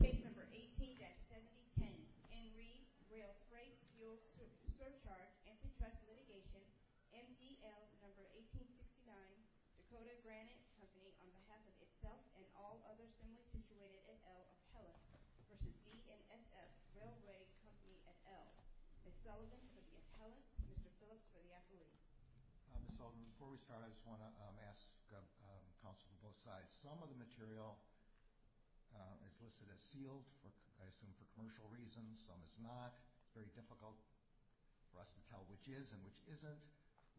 Case No. 18-7010. In re. Rail Freight Fuel Surcharge Antitrust Litigation. MDL No. 1869 Dakota Granite Company, on behalf of itself and all others similarly situated at L. Appellants vs. BNSF Railway Company at L. Ms. Sullivan for the appellants, Mr. Phillips for the accolades. Ms. Sullivan, before we start I just want to ask counsel from both sides, some of the material is listed as sealed, I assume for commercial reasons, some is not, very difficult for us to tell which is and which isn't.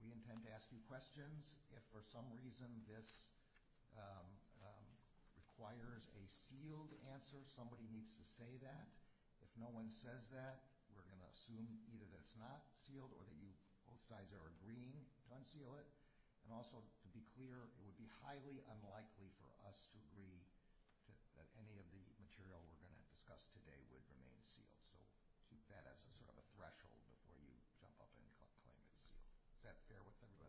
We intend to ask you questions. If for some reason this requires a sealed answer, somebody needs to say that. If no one says that, we're going to assume either that it's not sealed or that both sides are agreeing to unseal it. And also to be clear, it would be highly unlikely for us to agree that any of the material we're going to discuss today would remain sealed. So keep that as sort of a threshold before you jump up and claim it's sealed. Is that fair with everyone?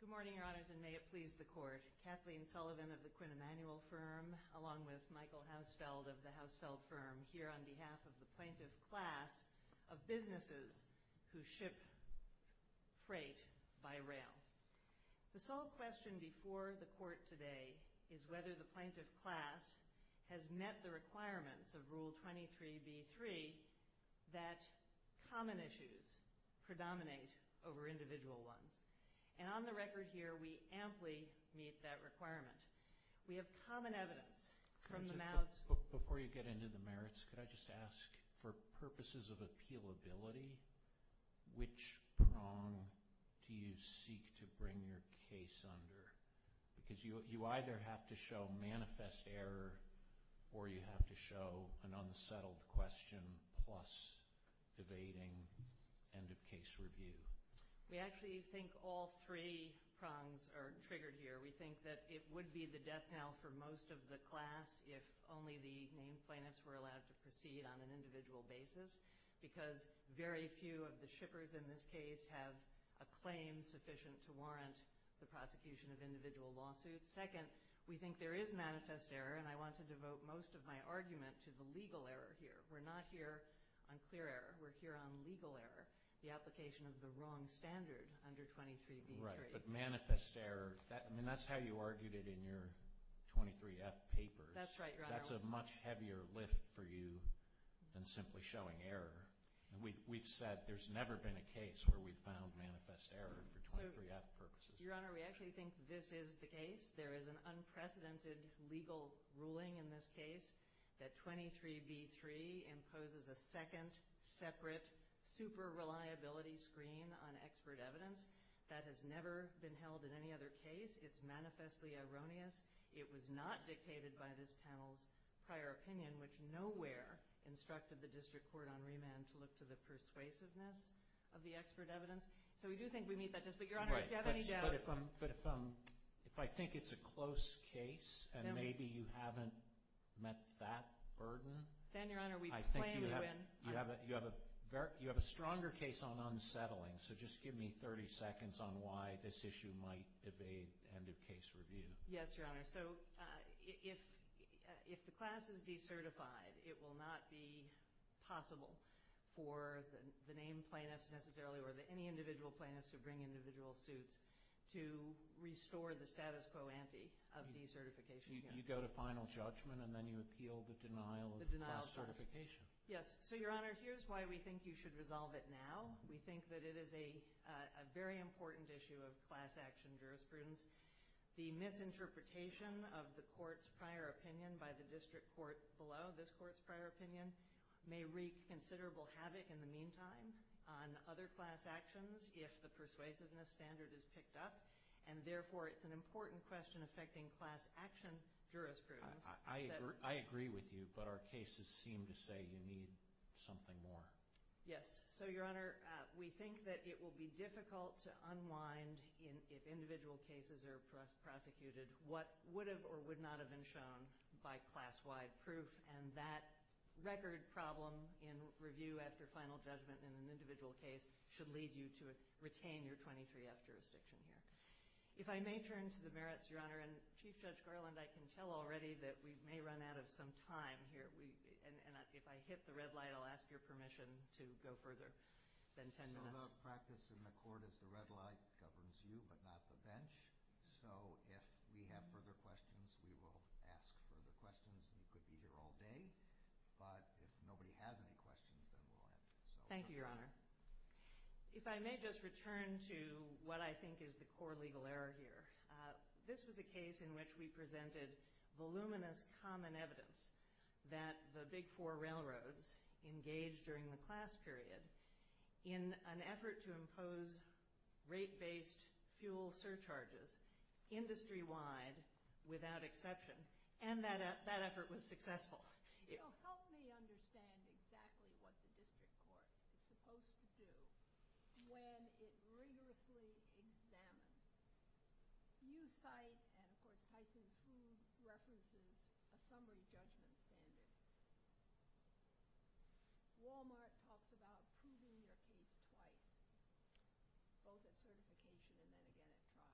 Good morning, Your Honors, and may it please the Court. Kathleen Sullivan of the Quinn Emanuel Firm, along with Michael Hausfeld of the Hausfeld Firm, here on behalf of the plaintiff class of businesses who ship freight by rail. The sole question before the Court today is whether the plaintiff class has met the requirements of Rule 23b-3 that common issues predominate over individual ones. And on the record here, we amply meet that requirement. We have common evidence from the mouths… …to bring your case under. Because you either have to show manifest error or you have to show an unsettled question plus debating end of case review. We actually think all three prongs are triggered here. We think that it would be the death knell for most of the class if only the named plaintiffs were allowed to proceed on an individual basis because very few of the shippers in this case have a claim sufficient to warrant the prosecution of individual lawsuits. Second, we think there is manifest error, and I want to devote most of my argument to the legal error here. We're not here on clear error. We're here on legal error, the application of the wrong standard under 23b-3. Right, but manifest error, I mean, that's how you argued it in your 23F papers. That's right, Your Honor. That's a much heavier lift for you than simply showing error. We've said there's never been a case where we've found manifest error for 23F purposes. Your Honor, we actually think this is the case. There is an unprecedented legal ruling in this case that 23b-3 imposes a second, separate, super reliability screen on expert evidence. That has never been held in any other case. It's manifestly erroneous. It was not dictated by this panel's prior opinion, which nowhere instructed the district court on remand to look to the persuasiveness of the expert evidence. So we do think we meet that test, but Your Honor, if you have any doubt. Right, but if I think it's a close case and maybe you haven't met that burden, I think you have a stronger case on unsettling, so just give me 30 seconds on why this issue might evade end of case review. Yes, Your Honor. So if the class is decertified, it will not be possible for the named plaintiffs necessarily or any individual plaintiffs who bring individual suits to restore the status quo ante of decertification. You go to final judgment and then you appeal the denial of class certification. Yes, so Your Honor, here's why we think you should resolve it now. We think that it is a very important issue of class action jurisprudence. The misinterpretation of the court's prior opinion by the district court below this court's prior opinion may wreak considerable havoc in the meantime on other class actions if the persuasiveness standard is picked up, and therefore it's an important question affecting class action jurisprudence. I agree with you, but our cases seem to say you need something more. Yes, so Your Honor, we think that it will be difficult to unwind if individual cases are prosecuted what would have or would not have been shown by class-wide proof, and that record problem in review after final judgment in an individual case should lead you to retain your 23F jurisdiction here. If I may turn to the merits, Your Honor, and Chief Judge Garland, I can tell already that we may run out of some time here, and if I hit the red light, I'll ask your permission to go further than 10 minutes. So the practice in the court is the red light governs you, but not the bench, so if we have further questions, we will ask further questions, and you could be here all day, but if nobody has any questions, then we'll end. Thank you, Your Honor. If I may just return to what I think is the core legal error here, this was a case in which we presented voluminous common evidence that the Big Four railroads engaged during the class period in an effort to impose rate-based fuel surcharges industry-wide without exception, and that effort was successful. So help me understand exactly what the district court is supposed to do when it rigorously examines. You cite, and of course Tyson proved, references a summary judgment standard. Walmart talks about proving your case twice, both at certification and then again at trial.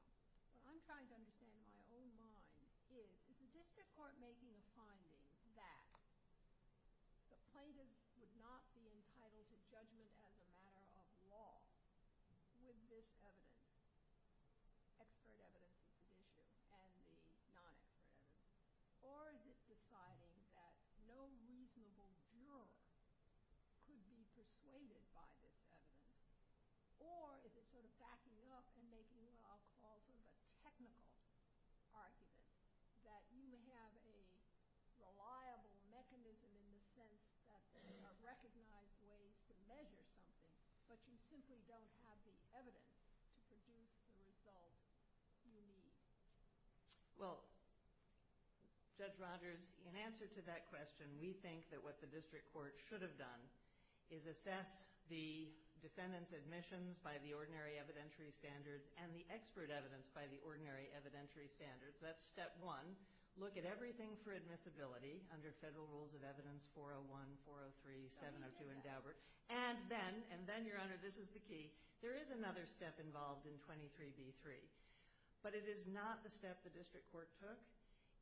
What I'm trying to understand in my own mind is, is the district court making a finding that the plaintiffs would not be entitled to judgment as a matter of law with this evidence, expert evidence of the issue and the non-expert evidence, or is it deciding that no reasonable juror could be persuaded by this evidence? Or is it sort of backing up and making what I'll call sort of a technical argument that you have a reliable mechanism in the sense that there are recognized ways to measure something, but you simply don't have the evidence to produce the result you need? Well, Judge Rogers, in answer to that question, we think that what the district court should have done is assess the defendant's admissions by the ordinary evidentiary standards and the expert evidence by the ordinary evidentiary standards. That's step one. Look at everything for admissibility under federal rules of evidence 401, 403, 702, and Daubert. And then, and then, Your Honor, this is the key, there is another step involved in 23b3. But it is not the step the district court took.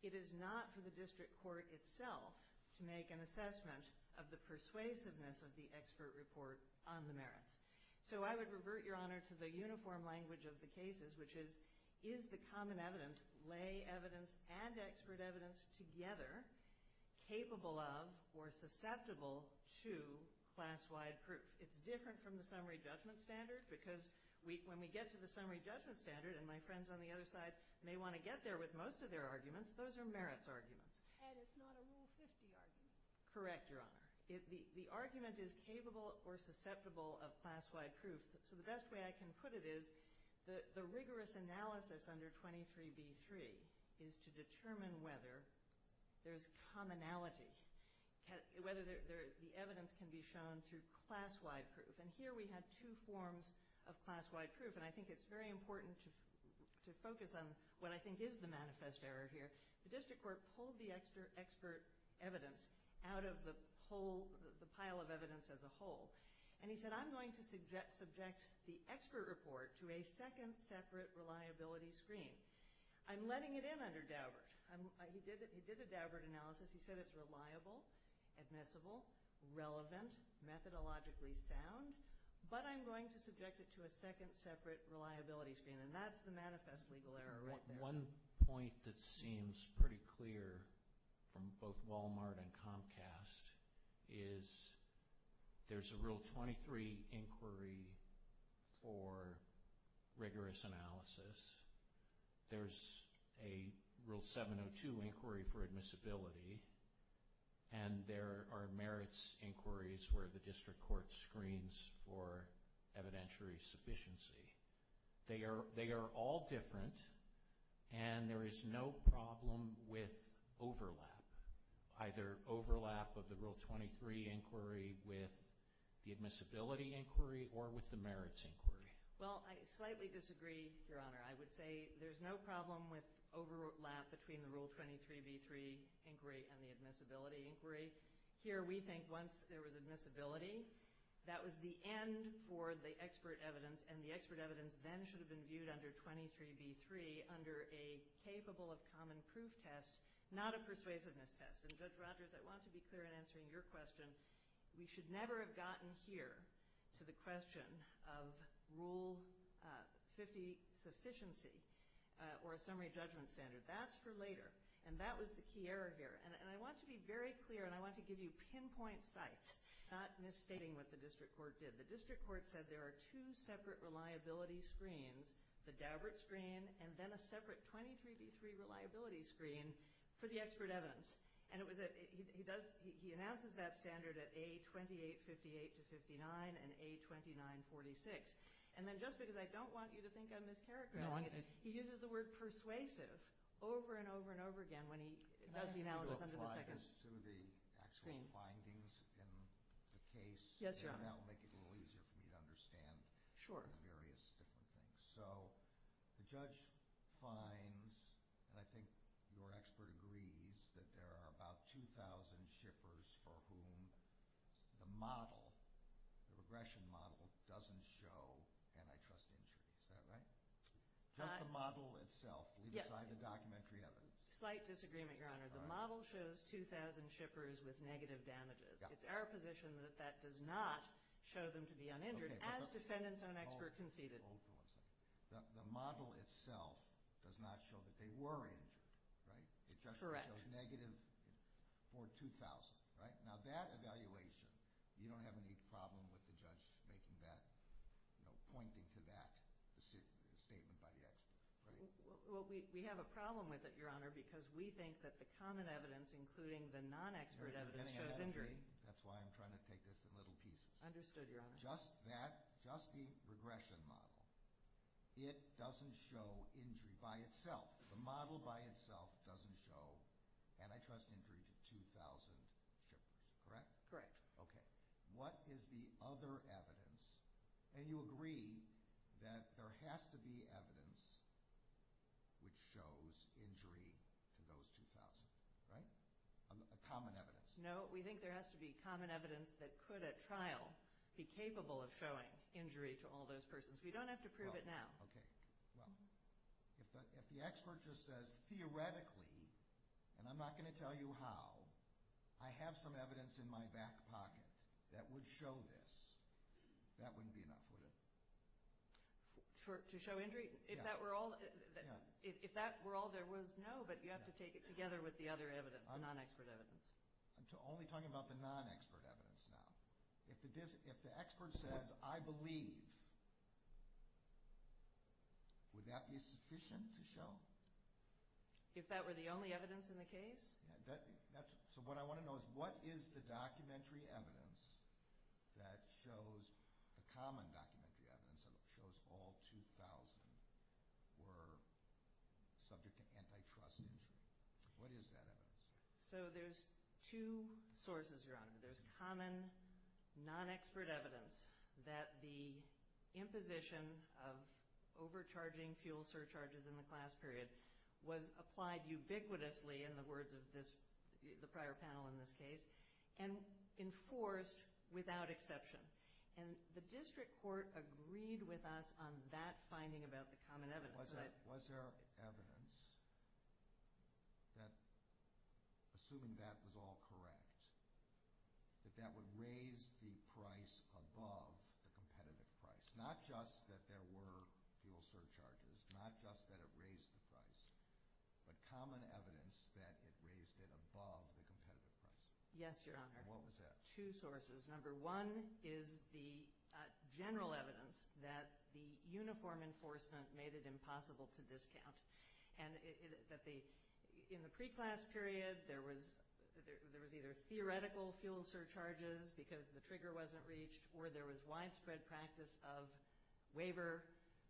It is not for the district court itself to make an assessment of the persuasiveness of the expert report on the merits. So I would revert, Your Honor, to the uniform language of the cases, which is, is the common evidence, lay evidence, and expert evidence together capable of or susceptible to class-wide proof? It's different from the summary judgment standard because when we get to the summary judgment standard, and my friends on the other side may want to get there with most of their arguments, those are merits arguments. And it's not a Rule 50 argument. Correct, Your Honor. The argument is capable or susceptible of class-wide proof. So the best way I can put it is the rigorous analysis under 23b3 is to determine whether there's commonality, whether the evidence can be shown through class-wide proof. And here we had two forms of class-wide proof. And I think it's very important to focus on what I think is the manifest error here. The district court pulled the expert evidence out of the pile of evidence as a whole. And he said, I'm going to subject the expert report to a second separate reliability screen. I'm letting it in under Daubert. He did a Daubert analysis. He said it's reliable, admissible, relevant, methodologically sound, but I'm going to subject it to a second separate reliability screen. And that's the manifest legal error right there. One point that seems pretty clear from both Walmart and Comcast is there's a Rule 23 inquiry for rigorous analysis. There's a Rule 702 inquiry for admissibility. And there are merits inquiries where the district court screens for evidentiary sufficiency. They are all different, and there is no problem with overlap, either overlap of the Rule 23 inquiry with the admissibility inquiry or with the merits inquiry. Well, I slightly disagree, Your Honor. I would say there's no problem with overlap between the Rule 23b3 inquiry and the admissibility inquiry. Here we think once there was admissibility, that was the end for the expert evidence, and the expert evidence then should have been viewed under 23b3 under a capable of common proof test, not a persuasiveness test. And, Judge Rogers, I want to be clear in answering your question. We should never have gotten here to the question of Rule 50 sufficiency or a summary judgment standard. That's for later. And that was the key error here. And I want to be very clear, and I want to give you pinpoint sites, not misstating what the district court did. The district court said there are two separate reliability screens, the Daubert screen and then a separate 23b3 reliability screen for the expert evidence. And he announces that standard at A2858-59 and A2946. And then just because I don't want you to think I'm mischaracterizing it, he uses the word persuasive over and over and over again when he does the analysis. Can you apply this to the actual findings in the case? Yes, Your Honor. And that will make it a little easier for me to understand the various different things. So the judge finds, and I think your expert agrees, that there are about 2,000 shippers for whom the model, the regression model, doesn't show antitrust injury. Is that right? Just the model itself, leave aside the documentary evidence. Slight disagreement, Your Honor. The model shows 2,000 shippers with negative damages. It's our position that that does not show them to be uninjured, as defendant's own expert conceded. Hold on a second. The model itself does not show that they were injured, right? Correct. It just shows negative for 2,000, right? Now that evaluation, you don't have any problem with the judge making that, you know, pointing to that statement by the expert, right? Well, we have a problem with it, Your Honor, because we think that the common evidence, including the non-expert evidence, shows injury. That's why I'm trying to take this in little pieces. Understood, Your Honor. Just that, just the regression model, it doesn't show injury by itself. The model by itself doesn't show antitrust injury to 2,000 shippers, correct? Correct. Okay. What is the other evidence? And you agree that there has to be evidence which shows injury to those 2,000, right? A common evidence. No, we think there has to be common evidence that could, at trial, be capable of showing injury to all those persons. We don't have to prove it now. Okay. Well, if the expert just says, theoretically, and I'm not going to tell you how, I have some evidence in my back pocket that would show this, that wouldn't be enough, would it? To show injury? Yeah. If that were all there was, no, but you have to take it together with the other evidence, the non-expert evidence. I'm only talking about the non-expert evidence now. If the expert says, I believe, would that be sufficient to show? If that were the only evidence in the case? So what I want to know is, what is the documentary evidence that shows, the common documentary evidence that shows all 2,000 were subject to antitrust injury? What is that evidence? So there's two sources, Your Honor. There's common non-expert evidence that the imposition of overcharging fuel surcharges in the class period was applied ubiquitously, in the words of this, the prior panel in this case, and enforced without exception. And the district court agreed with us on that finding about the common evidence. Was there evidence that, assuming that was all correct, that that would raise the price above the competitive price? Not just that there were fuel surcharges, not just that it raised the price, but common evidence that it raised it above the competitive price? Yes, Your Honor. And what was that? Number one is the general evidence that the uniform enforcement made it impossible to discount. And in the pre-class period, there was either theoretical fuel surcharges because the trigger wasn't reached, or there was widespread practice of waiver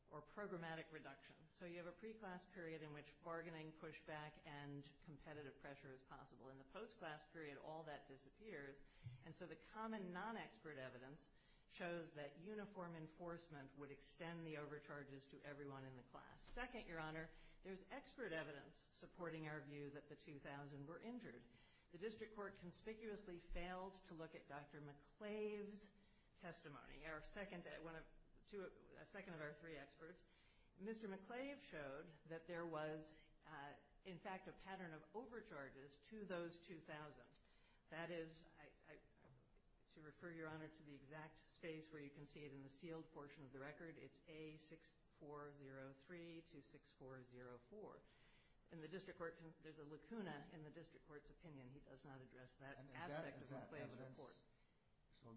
or programmatic reduction. So you have a pre-class period in which bargaining, pushback, and competitive pressure is possible. In the post-class period, all that disappears. And so the common non-expert evidence shows that uniform enforcement would extend the overcharges to everyone in the class. Second, Your Honor, there's expert evidence supporting our view that the 2,000 were injured. The district court conspicuously failed to look at Dr. McClave's testimony, our second of our three experts. Mr. McClave showed that there was, in fact, a pattern of overcharges to those 2,000. That is, to refer Your Honor to the exact space where you can see it in the sealed portion of the record, it's A6403 to 6404. In the district court, there's a lacuna in the district court's opinion. He does not address that aspect of McClave's report. So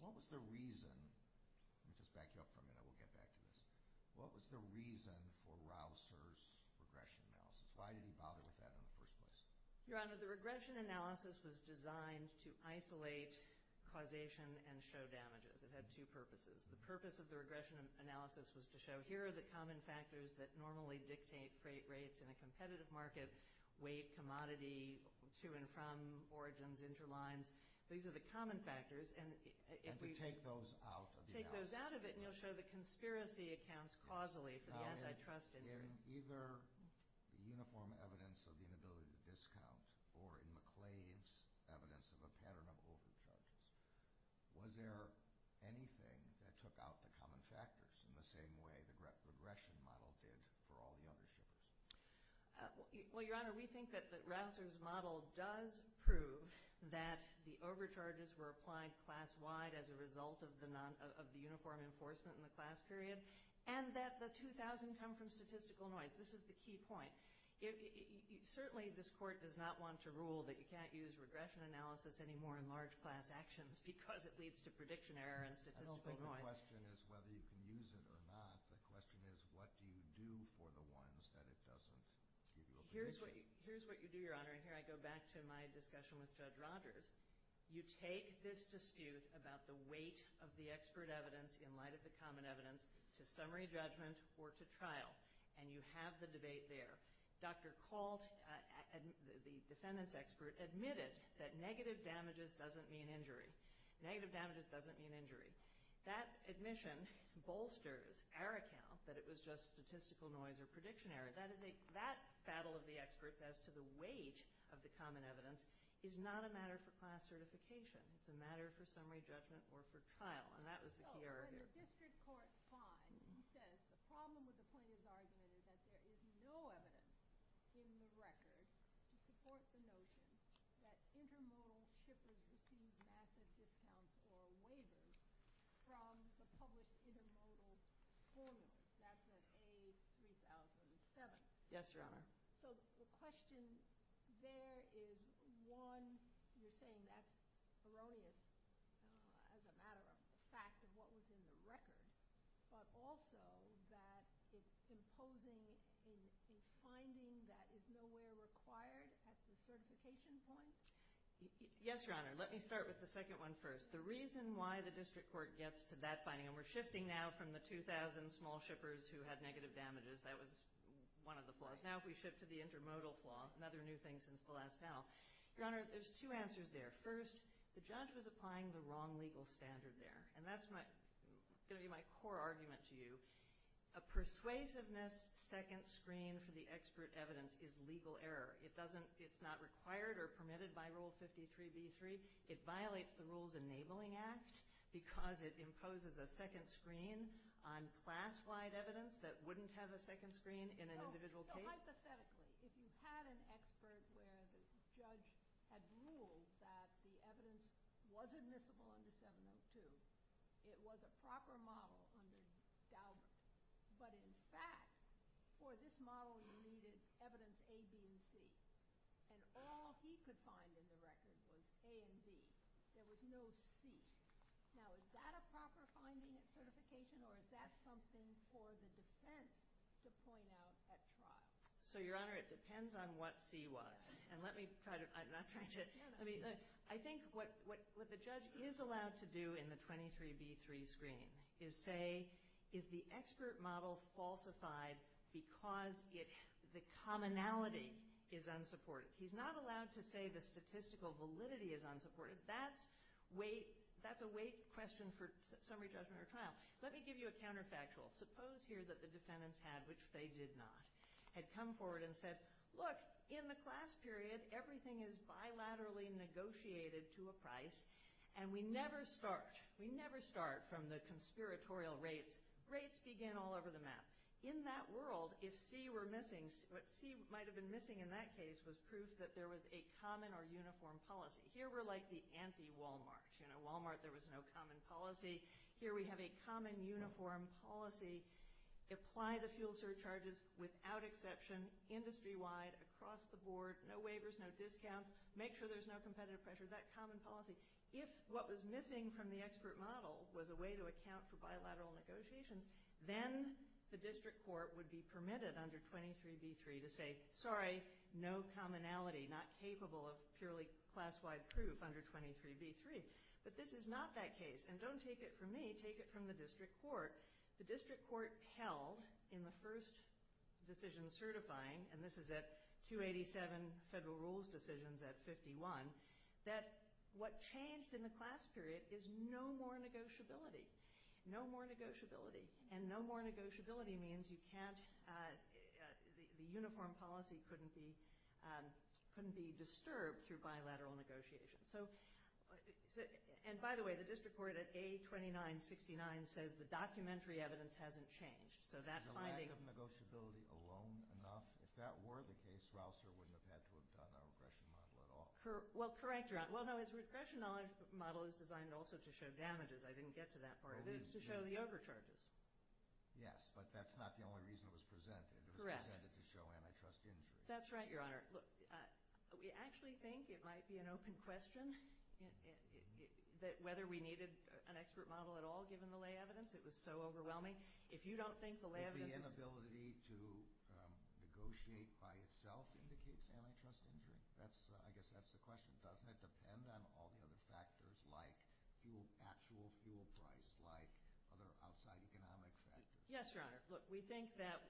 what was the reason, let me just back you up for a minute, we'll get back to this. What was the reason for Raoul Sear's regression analysis? Why did he bother with that in the first place? Your Honor, the regression analysis was designed to isolate causation and show damages. It had two purposes. The purpose of the regression analysis was to show here are the common factors that normally dictate freight rates in a competitive market. Weight, commodity, to and from, origins, interlines. These are the common factors. And to take those out of the analysis. Take those out of it, and you'll show the conspiracy accounts causally for the antitrust interest. In either the uniform evidence of the inability to discount or in McClave's evidence of a pattern of overcharges, was there anything that took out the common factors in the same way the regression model did for all the other shows? Well, Your Honor, we think that Raoul Sear's model does prove that the overcharges were applied class-wide as a result of the uniform enforcement in the class period, and that the 2,000 come from statistical noise. This is the key point. Certainly this court does not want to rule that you can't use regression analysis anymore in large class actions because it leads to prediction error and statistical noise. I don't think the question is whether you can use it or not. The question is, what do you do for the ones that it doesn't give you a prediction? Here's what you do, Your Honor, and here I go back to my discussion with Judge Rogers. You take this dispute about the weight of the expert evidence in light of the common evidence to summary judgment or to trial, and you have the debate there. Dr. Kalt, the defendant's expert, admitted that negative damages doesn't mean injury. Negative damages doesn't mean injury. That admission bolsters our account that it was just statistical noise or prediction error. That battle of the experts as to the weight of the common evidence is not a matter for class certification. It's a matter for summary judgment or for trial, and that was the key error here. For District Court 5, he says the problem with the plaintiff's argument is that there is no evidence in the record to support the notion that intermodal shippers receive massive discounts or waivers from the public intermodal formula. That's at A3007. Yes, Your Honor. So the question there is, one, you're saying that's erroneous as a matter of fact of what was in the record, but also that it's imposing a finding that is nowhere required at the certification point? Yes, Your Honor. Let me start with the second one first. The reason why the district court gets to that finding, and we're shifting now from the 2,000 small shippers who had negative damages. That was one of the flaws. Now if we shift to the intermodal flaw, another new thing since the last panel. Your Honor, there's two answers there. First, the judge was applying the wrong legal standard there, and that's going to be my core argument to you. A persuasiveness second screen for the expert evidence is legal error. It's not required or permitted by Rule 53b3. It violates the Rules Enabling Act because it imposes a second screen on class-wide evidence that wouldn't have a second screen in an individual case. So hypothetically, if you had an expert where the judge had ruled that the evidence was admissible under 702, it was a proper model under Daubert. But in fact, for this model, you needed evidence A, B, and C. And all he could find in the record was A and B. There was no C. Now, is that a proper finding at certification, or is that something for the defense to point out at trial? So, Your Honor, it depends on what C was. And let me try to—I'm not trying to—I mean, I think what the judge is allowed to do in the 23b3 screen is say, is the expert model falsified because the commonality is unsupported? He's not allowed to say the statistical validity is unsupported. That's a weight question for summary judgment or trial. Let me give you a counterfactual. Suppose here that the defendants had—which they did not—had come forward and said, look, in the class period, everything is bilaterally negotiated to a price, and we never start—we never start from the conspiratorial rates. Rates begin all over the map. In that world, if C were missing, what C might have been missing in that case was proof that there was a common or uniform policy. Here we're like the anti-Walmart. You know, Walmart, there was no common policy. Here we have a common uniform policy. Apply the fuel surcharges without exception, industry-wide, across the board, no waivers, no discounts. Make sure there's no competitive pressure. That common policy. If what was missing from the expert model was a way to account for bilateral negotiations, then the district court would be permitted under 23b-3 to say, sorry, no commonality, not capable of purely class-wide proof under 23b-3. But this is not that case. And don't take it from me. Take it from the district court. The district court held in the first decision certifying—and this is at 287 federal rules decisions at 51— that what changed in the class period is no more negotiability. No more negotiability. And no more negotiability means you can't—the uniform policy couldn't be disturbed through bilateral negotiations. So—and by the way, the district court at A-2969 says the documentary evidence hasn't changed. So that finding— Is the lack of negotiability alone enough? If that were the case, Rausser wouldn't have had to have done our regression model at all. Well, correct, Your Honor. Well, no, his regression model is designed also to show damages. I didn't get to that part. It is to show the overcharges. Yes, but that's not the only reason it was presented. Correct. It was presented to show antitrust injury. That's right, Your Honor. Look, we actually think it might be an open question whether we needed an expert model at all, given the lay evidence. It was so overwhelming. If you don't think the lay evidence is— negotiate by itself indicates antitrust injury? That's—I guess that's the question. Doesn't it depend on all the other factors like actual fuel price, like other outside economic factors? Yes, Your Honor. Look, we think that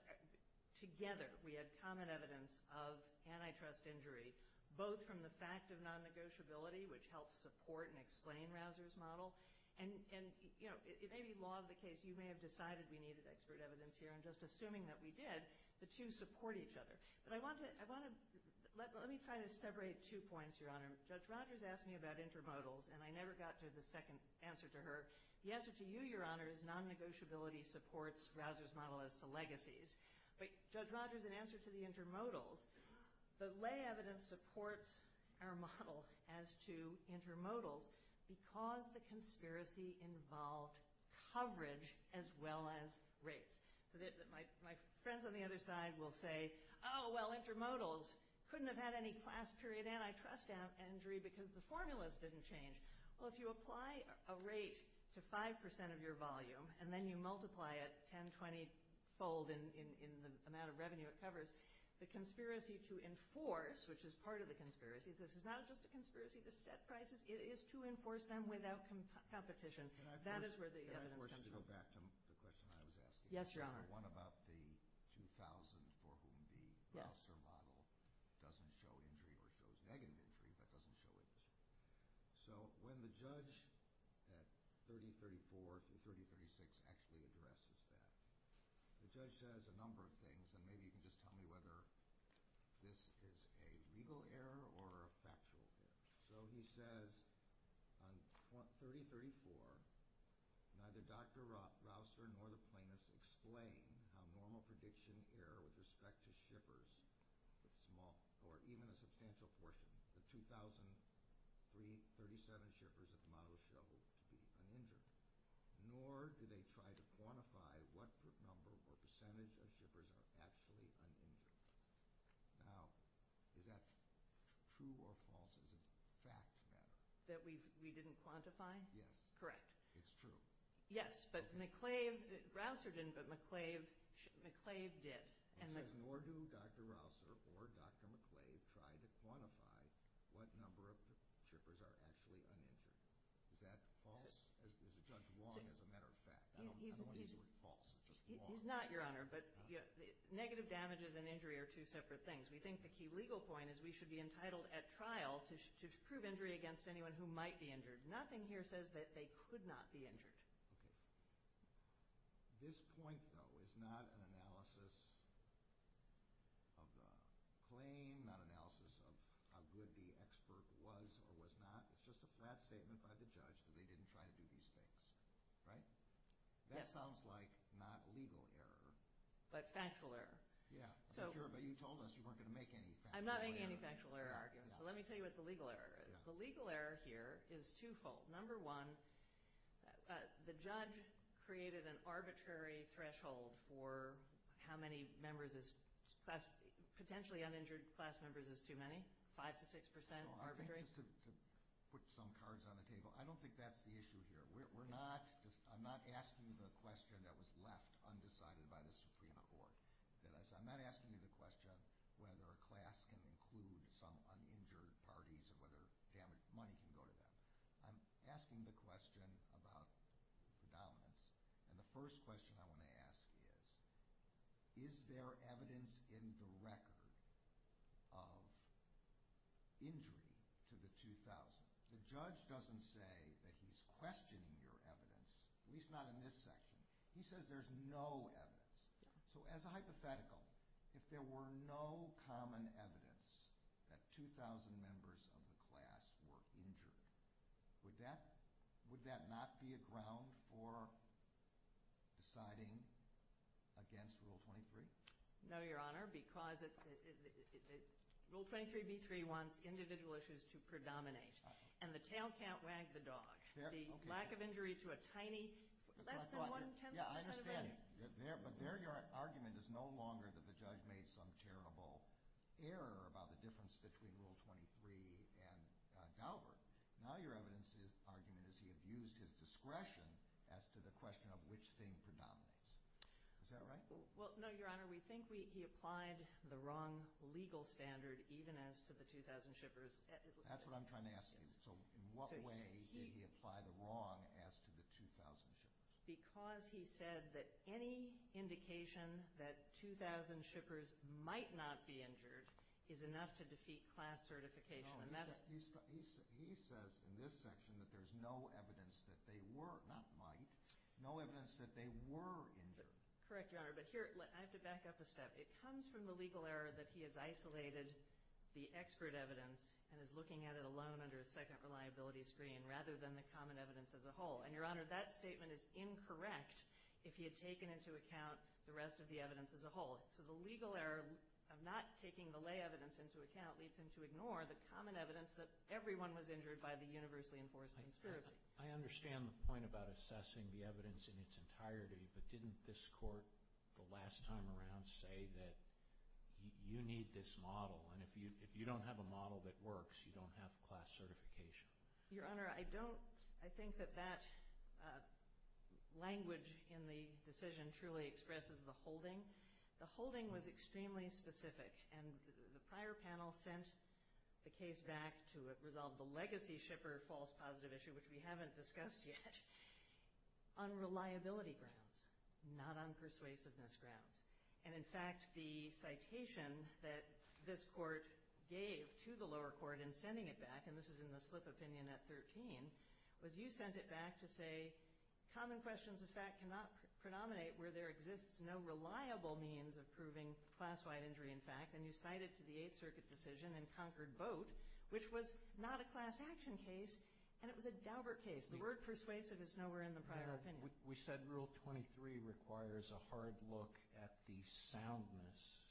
together we had common evidence of antitrust injury, both from the fact of non-negotiability, which helps support and explain Rausser's model. And, you know, it may be law of the case. You may have decided we needed expert evidence here. I'm just assuming that we did. The two support each other. But I want to—let me try to separate two points, Your Honor. Judge Rogers asked me about intermodals, and I never got to the second answer to her. The answer to you, Your Honor, is non-negotiability supports Rausser's model as to legacies. But, Judge Rogers, in answer to the intermodals, the lay evidence supports our model as to intermodals because the conspiracy involved coverage as well as rates. So my friends on the other side will say, oh, well, intermodals couldn't have had any class period antitrust injury because the formulas didn't change. Well, if you apply a rate to 5% of your volume and then you multiply it 10-20-fold in the amount of revenue it covers, the conspiracy to enforce, which is part of the conspiracy, this is not just a conspiracy to set prices. It is to enforce them without competition. That is where the evidence comes from. Let me go back to the question I was asking. Yes, Your Honor. One about the 2,000 for whom the Rausser model doesn't show injury or shows negative injury but doesn't show injury. So when the judge at 3034 to 3036 actually addresses that, the judge says a number of things, and maybe you can just tell me whether this is a legal error or a factual error. So he says on 3034, neither Dr. Rausser nor the plaintiffs explain how normal prediction error with respect to shippers with small or even a substantial portion, the 2,337 shippers that the model showed to be uninjured, nor do they try to quantify what group number or percentage of shippers are actually uninjured. Now, is that true or false as a fact matter? That we didn't quantify? Yes. Correct. It's true. Yes, but McClave, Rausser didn't, but McClave did. It says nor do Dr. Rausser or Dr. McClave try to quantify what number of shippers are actually uninjured. Is that false? Is Judge Wong, as a matter of fact? I don't want to use the word false. He's not, Your Honor, but negative damages and injury are two separate things. We think the key legal point is we should be entitled at trial to prove injury against anyone who might be injured. Nothing here says that they could not be injured. Okay. This point, though, is not an analysis of the claim, not analysis of how good the expert was or was not. It's just a flat statement by the judge that they didn't try to do these things, right? Yes. That sounds like not legal error. But factual error. Yeah. I'm sure, but you told us you weren't going to make any factual error. I'm not making any factual error arguments, so let me tell you what the legal error is. The legal error here is twofold. Number one, the judge created an arbitrary threshold for how many members, potentially uninjured class members is too many, 5 to 6% arbitrary. I think just to put some cards on the table, I don't think that's the issue here. I'm not asking the question that was left undecided by the Supreme Court. I'm not asking you the question whether a class can include some uninjured parties or whether money can go to them. I'm asking the question about the dominance, and the first question I want to ask is, is there evidence in the record of injury to the 2,000? The judge doesn't say that he's questioning your evidence, at least not in this section. He says there's no evidence. So as a hypothetical, if there were no common evidence that 2,000 members of the class were injured, would that not be a ground for deciding against Rule 23? No, Your Honor, because Rule 23b-3 wants individual issues to predominate, and the tail can't wag the dog. The lack of injury to a tiny, less than one-tenth of a member. Yeah, I understand. But there your argument is no longer that the judge made some terrible error about the difference between Rule 23 and Daubert. Now your evidence argument is he abused his discretion as to the question of which thing predominates. Is that right? Well, no, Your Honor, we think he applied the wrong legal standard, even as to the 2,000 shippers. That's what I'm trying to ask you. So in what way did he apply the wrong as to the 2,000 shippers? Because he said that any indication that 2,000 shippers might not be injured is enough to defeat class certification. No, he says in this section that there's no evidence that they were, not might, no evidence that they were injured. Correct, Your Honor, but here I have to back up a step. It comes from the legal error that he has isolated the expert evidence and is looking at it alone under a second reliability screen rather than the common evidence as a whole. And, Your Honor, that statement is incorrect if he had taken into account the rest of the evidence as a whole. So the legal error of not taking the lay evidence into account leads him to ignore the common evidence that everyone was injured by the universally enforced conspiracy. I understand the point about assessing the evidence in its entirety, but didn't this Court the last time around say that you need this model, and if you don't have a model that works, you don't have class certification? Your Honor, I don't. I think that that language in the decision truly expresses the holding. The holding was extremely specific, and the prior panel sent the case back to resolve the legacy shipper false positive issue, which we haven't discussed yet, on reliability grounds, not on persuasiveness grounds. And, in fact, the citation that this Court gave to the lower court in sending it back, and this is in the slip opinion at 13, was you sent it back to say, common questions of fact cannot predominate where there exists no reliable means of proving class-wide injury in fact, and you cited to the Eighth Circuit decision in Concord Boat, which was not a class action case, and it was a Daubert case. The word persuasive is nowhere in the prior opinion. We said Rule 23 requires a hard look at the soundness,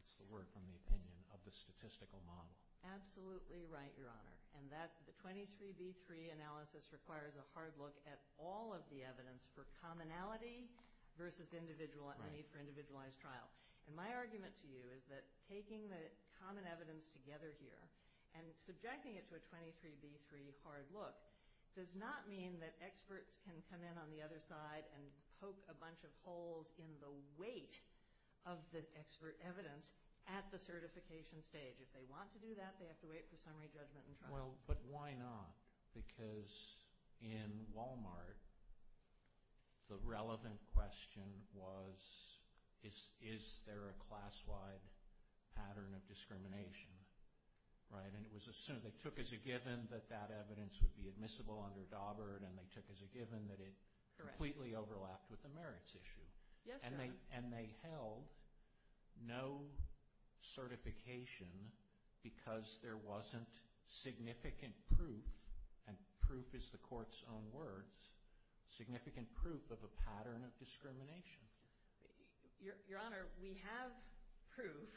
that's the word from the opinion, of the statistical model. Absolutely right, Your Honor. And the 23B3 analysis requires a hard look at all of the evidence for commonality versus need for individualized trial. And my argument to you is that taking the common evidence together here and subjecting it to a 23B3 hard look does not mean that experts can come in on the other side and poke a bunch of holes in the weight of the expert evidence at the certification stage. If they want to do that, they have to wait for summary judgment and trial. Well, but why not? Because in Walmart, the relevant question was, is there a class-wide pattern of discrimination, right? And it was assumed they took as a given that that evidence would be admissible under Daubert, and they took as a given that it completely overlapped with the merits issue. Yes, Your Honor. And they held no certification because there wasn't significant proof, and proof is the court's own words, significant proof of a pattern of discrimination. Your Honor, we have proof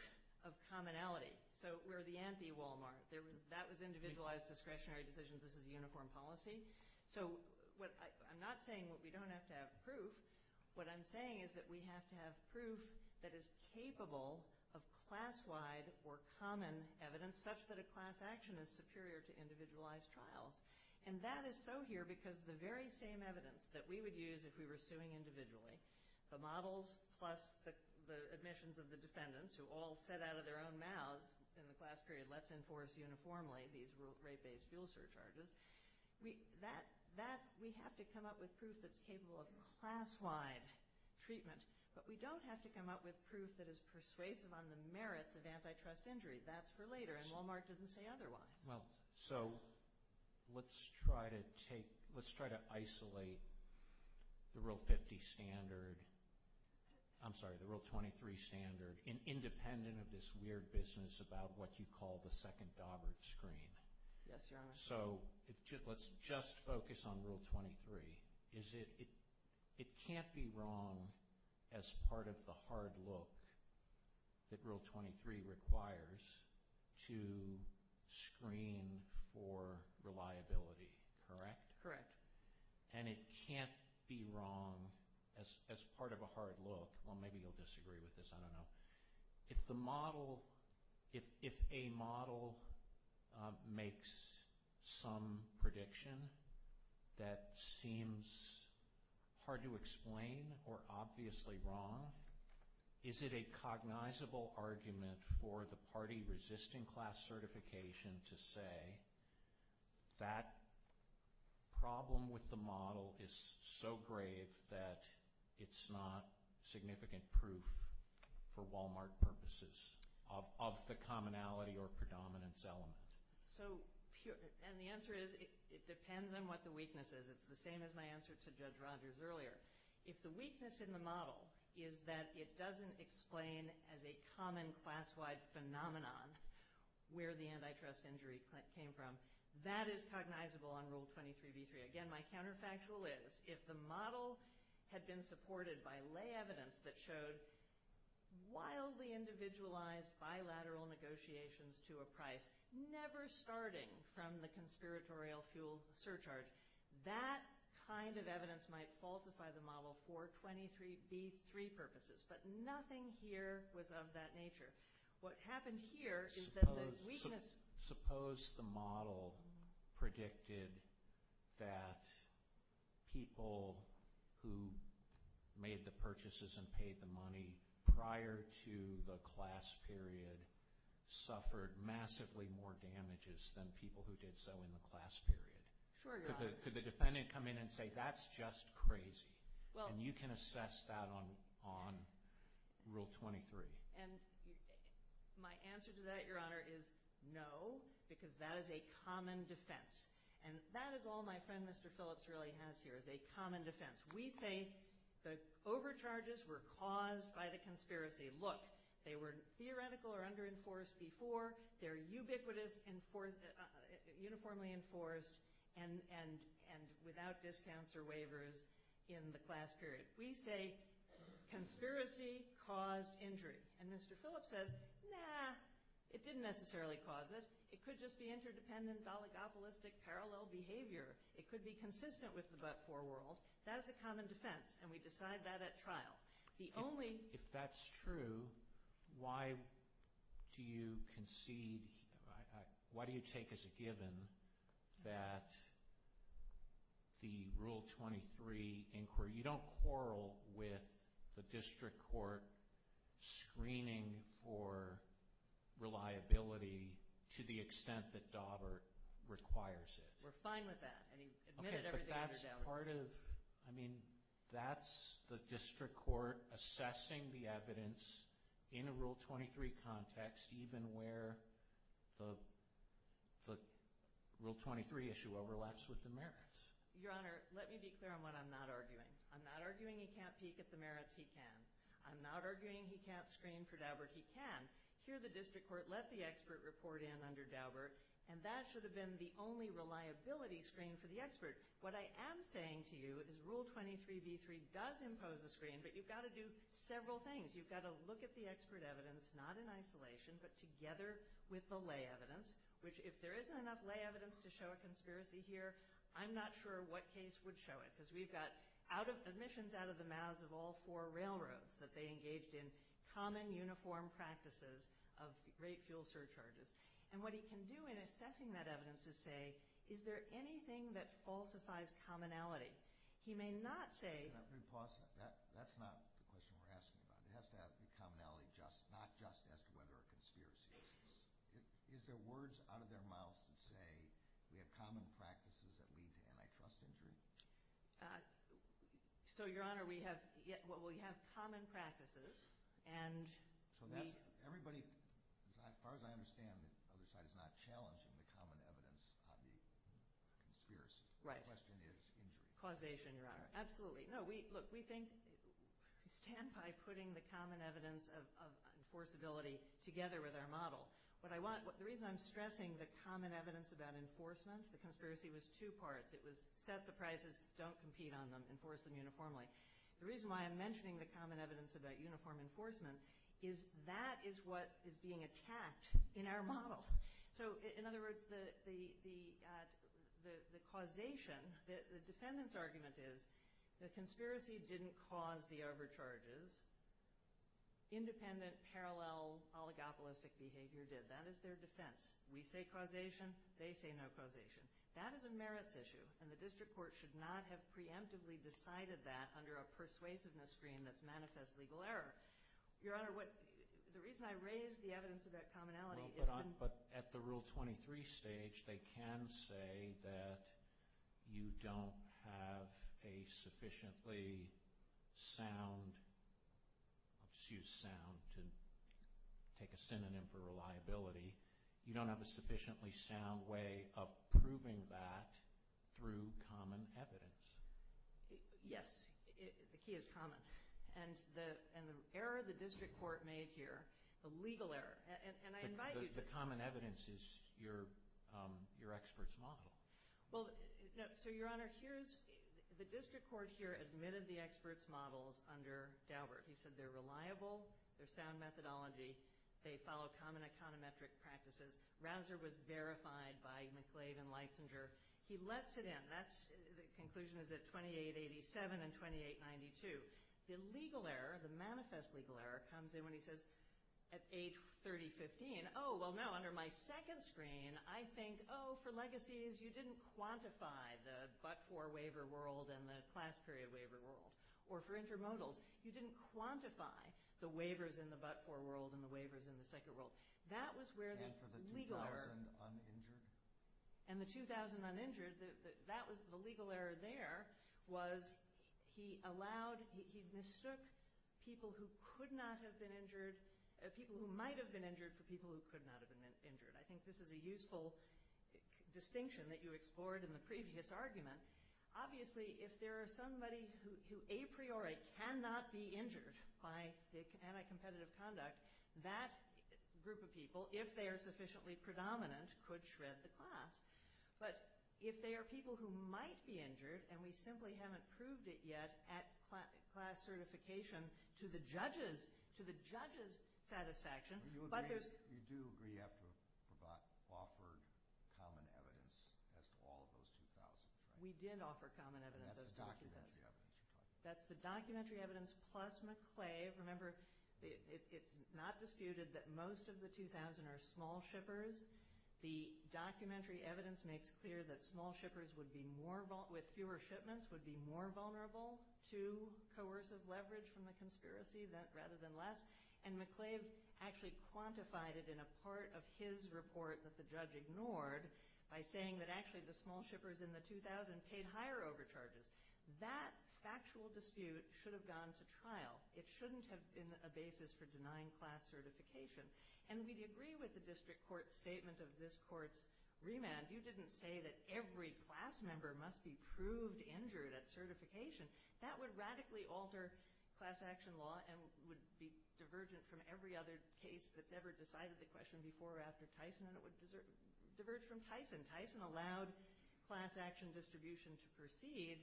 of commonality. So we're the anti-Walmart. That was individualized discretionary decisions. This is uniform policy. So I'm not saying we don't have to have proof. What I'm saying is that we have to have proof that is capable of class-wide or common evidence such that a class action is superior to individualized trials. And that is so here because the very same evidence that we would use if we were suing individually, the models plus the admissions of the defendants who all said out of their own mouths in the class period, let's enforce uniformly these rate-based fuel surcharges, we have to come up with proof that's capable of class-wide treatment, but we don't have to come up with proof that is persuasive on the merits of antitrust injury. That's for later, and Walmart didn't say otherwise. Well, so let's try to isolate the Rule 50 standard, I'm sorry, the Rule 23 standard, independent of this weird business about what you call the second Daubert screen. Yes, Your Honor. So let's just focus on Rule 23. It can't be wrong as part of the hard look that Rule 23 requires to screen for reliability, correct? Correct. And it can't be wrong as part of a hard look, well, maybe you'll disagree with this, I don't know, but if a model makes some prediction that seems hard to explain or obviously wrong, is it a cognizable argument for the party resisting class certification to say that problem with the model is so grave that it's not significant proof for Walmart purposes of the commonality or predominance element? So, and the answer is it depends on what the weakness is. It's the same as my answer to Judge Rogers earlier. If the weakness in the model is that it doesn't explain as a common class-wide phenomenon where the antitrust injury came from, that is cognizable on Rule 23b3. Again, my counterfactual is if the model had been supported by lay evidence that showed wildly individualized bilateral negotiations to a price, never starting from the conspiratorial fuel surcharge, that kind of evidence might falsify the model for 23b3 purposes. But nothing here was of that nature. What happened here is that the weakness— Suppose the model predicted that people who made the purchases and paid the money prior to the class period suffered massively more damages than people who did so in the class period. Sure, Your Honor. Could the defendant come in and say, that's just crazy? And you can assess that on Rule 23. And my answer to that, Your Honor, is no, because that is a common defense. And that is all my friend Mr. Phillips really has here, is a common defense. We say the overcharges were caused by the conspiracy. Look, they were theoretical or under-enforced before. They're ubiquitous, uniformly enforced, and without discounts or waivers in the class period. We say conspiracy caused injury. And Mr. Phillips says, nah, it didn't necessarily cause it. It could just be interdependent, oligopolistic, parallel behavior. It could be consistent with the but-for world. That is a common defense, and we decide that at trial. If that's true, why do you concede, why do you take as a given that the Rule 23 inquiry, you don't quarrel with the district court screening for reliability to the extent that Daubert requires it. We're fine with that, and he admitted everything under Daubert. I mean, that's the district court assessing the evidence in a Rule 23 context, even where the Rule 23 issue overlaps with the merits. Your Honor, let me be clear on what I'm not arguing. I'm not arguing he can't peek at the merits, he can. I'm not arguing he can't screen for Daubert, he can. Here the district court let the expert report in under Daubert, and that should have been the only reliability screen for the expert. What I am saying to you is Rule 23b3 does impose a screen, but you've got to do several things. You've got to look at the expert evidence, not in isolation, but together with the lay evidence, which if there isn't enough lay evidence to show a conspiracy here, I'm not sure what case would show it, because we've got admissions out of the mouths of all four railroads that they engaged in common uniform practices of rate fuel surcharges. And what he can do in assessing that evidence is say, is there anything that falsifies commonality? He may not say— Let me pause. That's not the question we're asking about. It has to have commonality, not just as to whether a conspiracy exists. Is there words out of their mouths that say we have common practices that lead to antitrust injury? So, Your Honor, we have common practices, and we— Everybody, as far as I understand the other side, is not challenging the common evidence of the conspiracy. Right. The question is injury. Causation, Your Honor. Absolutely. No, look, we think—we stand by putting the common evidence of enforceability together with our model. What I want—the reason I'm stressing the common evidence about enforcement, the conspiracy was two parts. It was set the prices, don't compete on them, enforce them uniformly. The reason why I'm mentioning the common evidence about uniform enforcement is that is what is being attacked in our model. So, in other words, the causation, the defendant's argument is the conspiracy didn't cause the overcharges. Independent, parallel, oligopolistic behavior did. That is their defense. We say causation. They say no causation. That is a merits issue, and the district court should not have preemptively decided that under a persuasiveness screen that's manifest legal error. Your Honor, what—the reason I raise the evidence about commonality is that— But at the Rule 23 stage, they can say that you don't have a sufficiently sound— I'll just use sound to take a synonym for reliability. You don't have a sufficiently sound way of proving that through common evidence. Yes. The key is common. And the error the district court made here, the legal error, and I invite you to— The common evidence is your expert's model. Well, so, Your Honor, here's—the district court here admitted the expert's models under Daubert. He said they're reliable. They're sound methodology. They follow common econometric practices. Rausser was verified by McClave and Leitzinger. He lets it in. That's—the conclusion is at 2887 and 2892. The legal error, the manifest legal error, comes in when he says at age 30, 15, oh, well, no, under my second screen, I think, oh, for legacies, you didn't quantify the but-for waiver world and the class period waiver world. Or for intermodals, you didn't quantify the waivers in the but-for world and the waivers in the second world. That was where the legal error— And for the 2,000 uninjured? And the 2,000 uninjured, that was—the legal error there was he allowed—he mistook people who could not have been injured—people who might have been injured for people who could not have been injured. I think this is a useful distinction that you explored in the previous argument. Obviously, if there is somebody who a priori cannot be injured by anti-competitive conduct, that group of people, if they are sufficiently predominant, could shred the class. But if they are people who might be injured and we simply haven't proved it yet at class certification to the judge's satisfaction, but there's— You do agree you have to offer common evidence as to all of those 2,000, right? We did offer common evidence. That's the documentary evidence you talked about. That's the documentary evidence plus McClave. Remember, it's not disputed that most of the 2,000 are small shippers. The documentary evidence makes clear that small shippers with fewer shipments would be more vulnerable to coercive leverage from the conspiracy rather than less. And McClave actually quantified it in a part of his report that the judge ignored by saying that actually the small shippers in the 2,000 paid higher overcharges. That factual dispute should have gone to trial. It shouldn't have been a basis for denying class certification. And we agree with the district court's statement of this court's remand. You didn't say that every class member must be proved injured at certification. That would radically alter class action law and would be divergent from every other case that's ever decided the question before or after Tyson, and it would diverge from Tyson. Tyson allowed class action distribution to proceed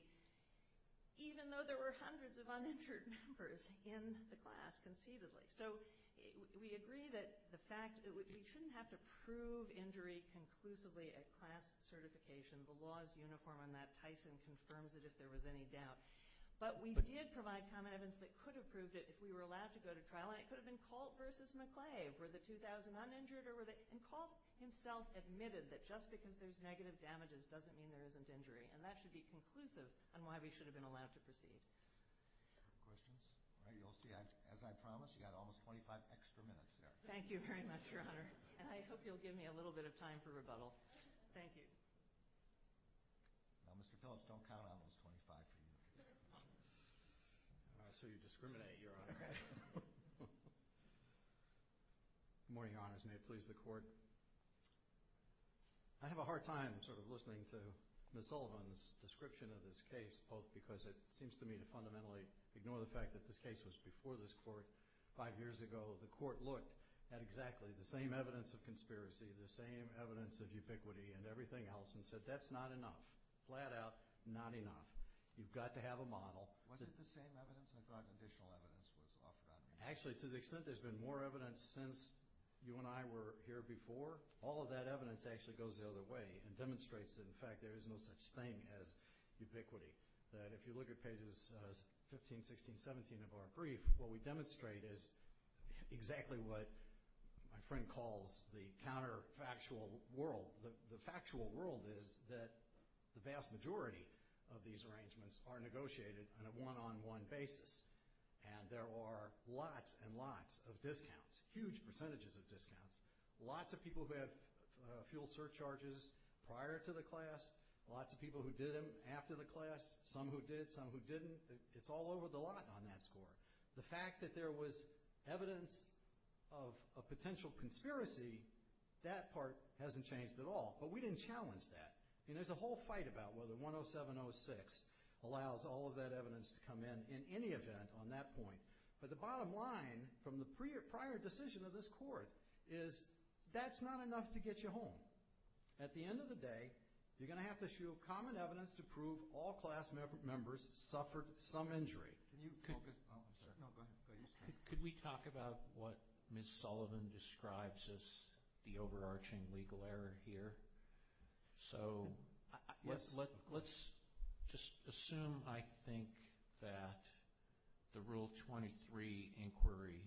even though there were hundreds of uninjured members in the class conceivably. So we agree that the fact—we shouldn't have to prove injury conclusively at class certification. The law is uniform on that. Tyson confirms it if there was any doubt. But we did provide common evidence that could have proved it if we were allowed to go to trial, and it could have been Colt versus McClave. Were the 2,000 uninjured or were they—and Colt himself admitted that just because there's negative damages doesn't mean there isn't injury, and that should be conclusive on why we should have been allowed to proceed. Questions? All right, you'll see, as I promised, you've got almost 25 extra minutes there. Thank you very much, Your Honor, and I hope you'll give me a little bit of time for rebuttal. Thank you. Now, Mr. Phillips, don't count on those 25 for you. So you discriminate, Your Honor. Good morning, Your Honors. May it please the Court. I have a hard time sort of listening to Ms. Sullivan's description of this case, both because it seems to me to fundamentally ignore the fact that this case was before this Court five years ago. The Court looked at exactly the same evidence of conspiracy, the same evidence of ubiquity, and everything else and said, that's not enough, flat out not enough. You've got to have a model. Was it the same evidence? I thought additional evidence was offered on that. Actually, to the extent there's been more evidence since you and I were here before, all of that evidence actually goes the other way and demonstrates that, in fact, there is no such thing as ubiquity. That if you look at pages 15, 16, 17 of our brief, what we demonstrate is exactly what my friend calls the counterfactual world. The factual world is that the vast majority of these arrangements are negotiated on a one-on-one basis, and there are lots and lots of discounts, huge percentages of discounts. Lots of people who have fuel surcharges prior to the class, lots of people who did them after the class, some who did, some who didn't. It's all over the lot on that score. The fact that there was evidence of a potential conspiracy, that part hasn't changed at all. But we didn't challenge that. I mean, there's a whole fight about whether 10706 allows all of that evidence to come in in any event on that point. But the bottom line from the prior decision of this Court is that's not enough to get you home. At the end of the day, you're going to have to show common evidence to prove all class members suffered some injury. Can you focus? Oh, I'm sorry. No, go ahead. Could we talk about what Ms. Sullivan describes as the overarching legal error here? So let's just assume, I think, that the Rule 23 inquiry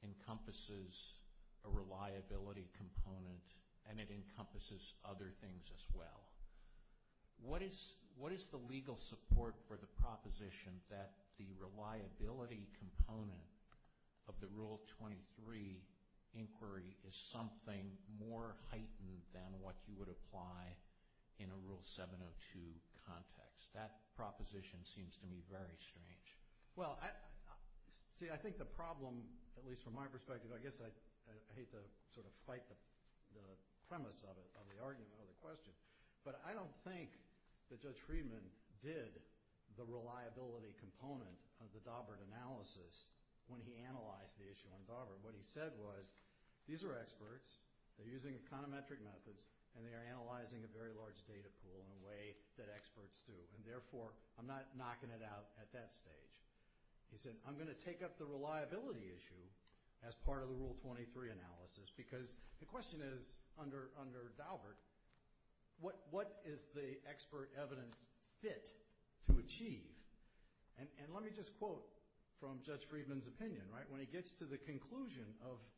encompasses a reliability component, and it encompasses other things as well. What is the legal support for the proposition that the reliability component of the Rule 23 inquiry is something more heightened than what you would apply in a Rule 702 context? That proposition seems to me very strange. Well, see, I think the problem, at least from my perspective, I guess I hate to sort of fight the premise of it, of the argument or the question, but I don't think that Judge Friedman did the reliability component of the Daubert analysis when he analyzed the issue on Daubert. What he said was, these are experts, they're using econometric methods, and they are analyzing a very large data pool in a way that experts do, and therefore I'm not knocking it out at that stage. He said, I'm going to take up the reliability issue as part of the Rule 23 analysis, because the question is, under Daubert, what is the expert evidence fit to achieve? And let me just quote from Judge Friedman's opinion. When he gets to the conclusion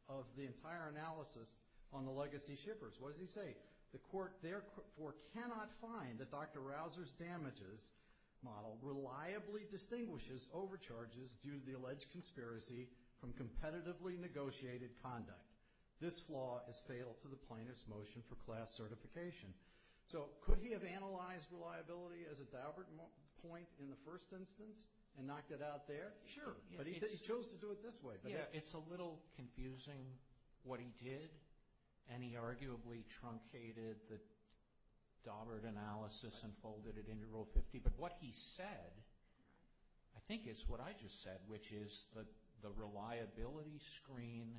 of the entire analysis on the legacy shippers, what does he say? The court therefore cannot find that Dr. Rausser's damages model reliably distinguishes overcharges due to the alleged conspiracy from competitively negotiated conduct. This flaw is fatal to the plaintiff's motion for class certification. So could he have analyzed reliability as a Daubert point in the first instance and knocked it out there? Sure, but he chose to do it this way. Yeah, it's a little confusing what he did, and he arguably truncated the Daubert analysis and folded it into Rule 50, but what he said I think is what I just said, which is that the reliability screen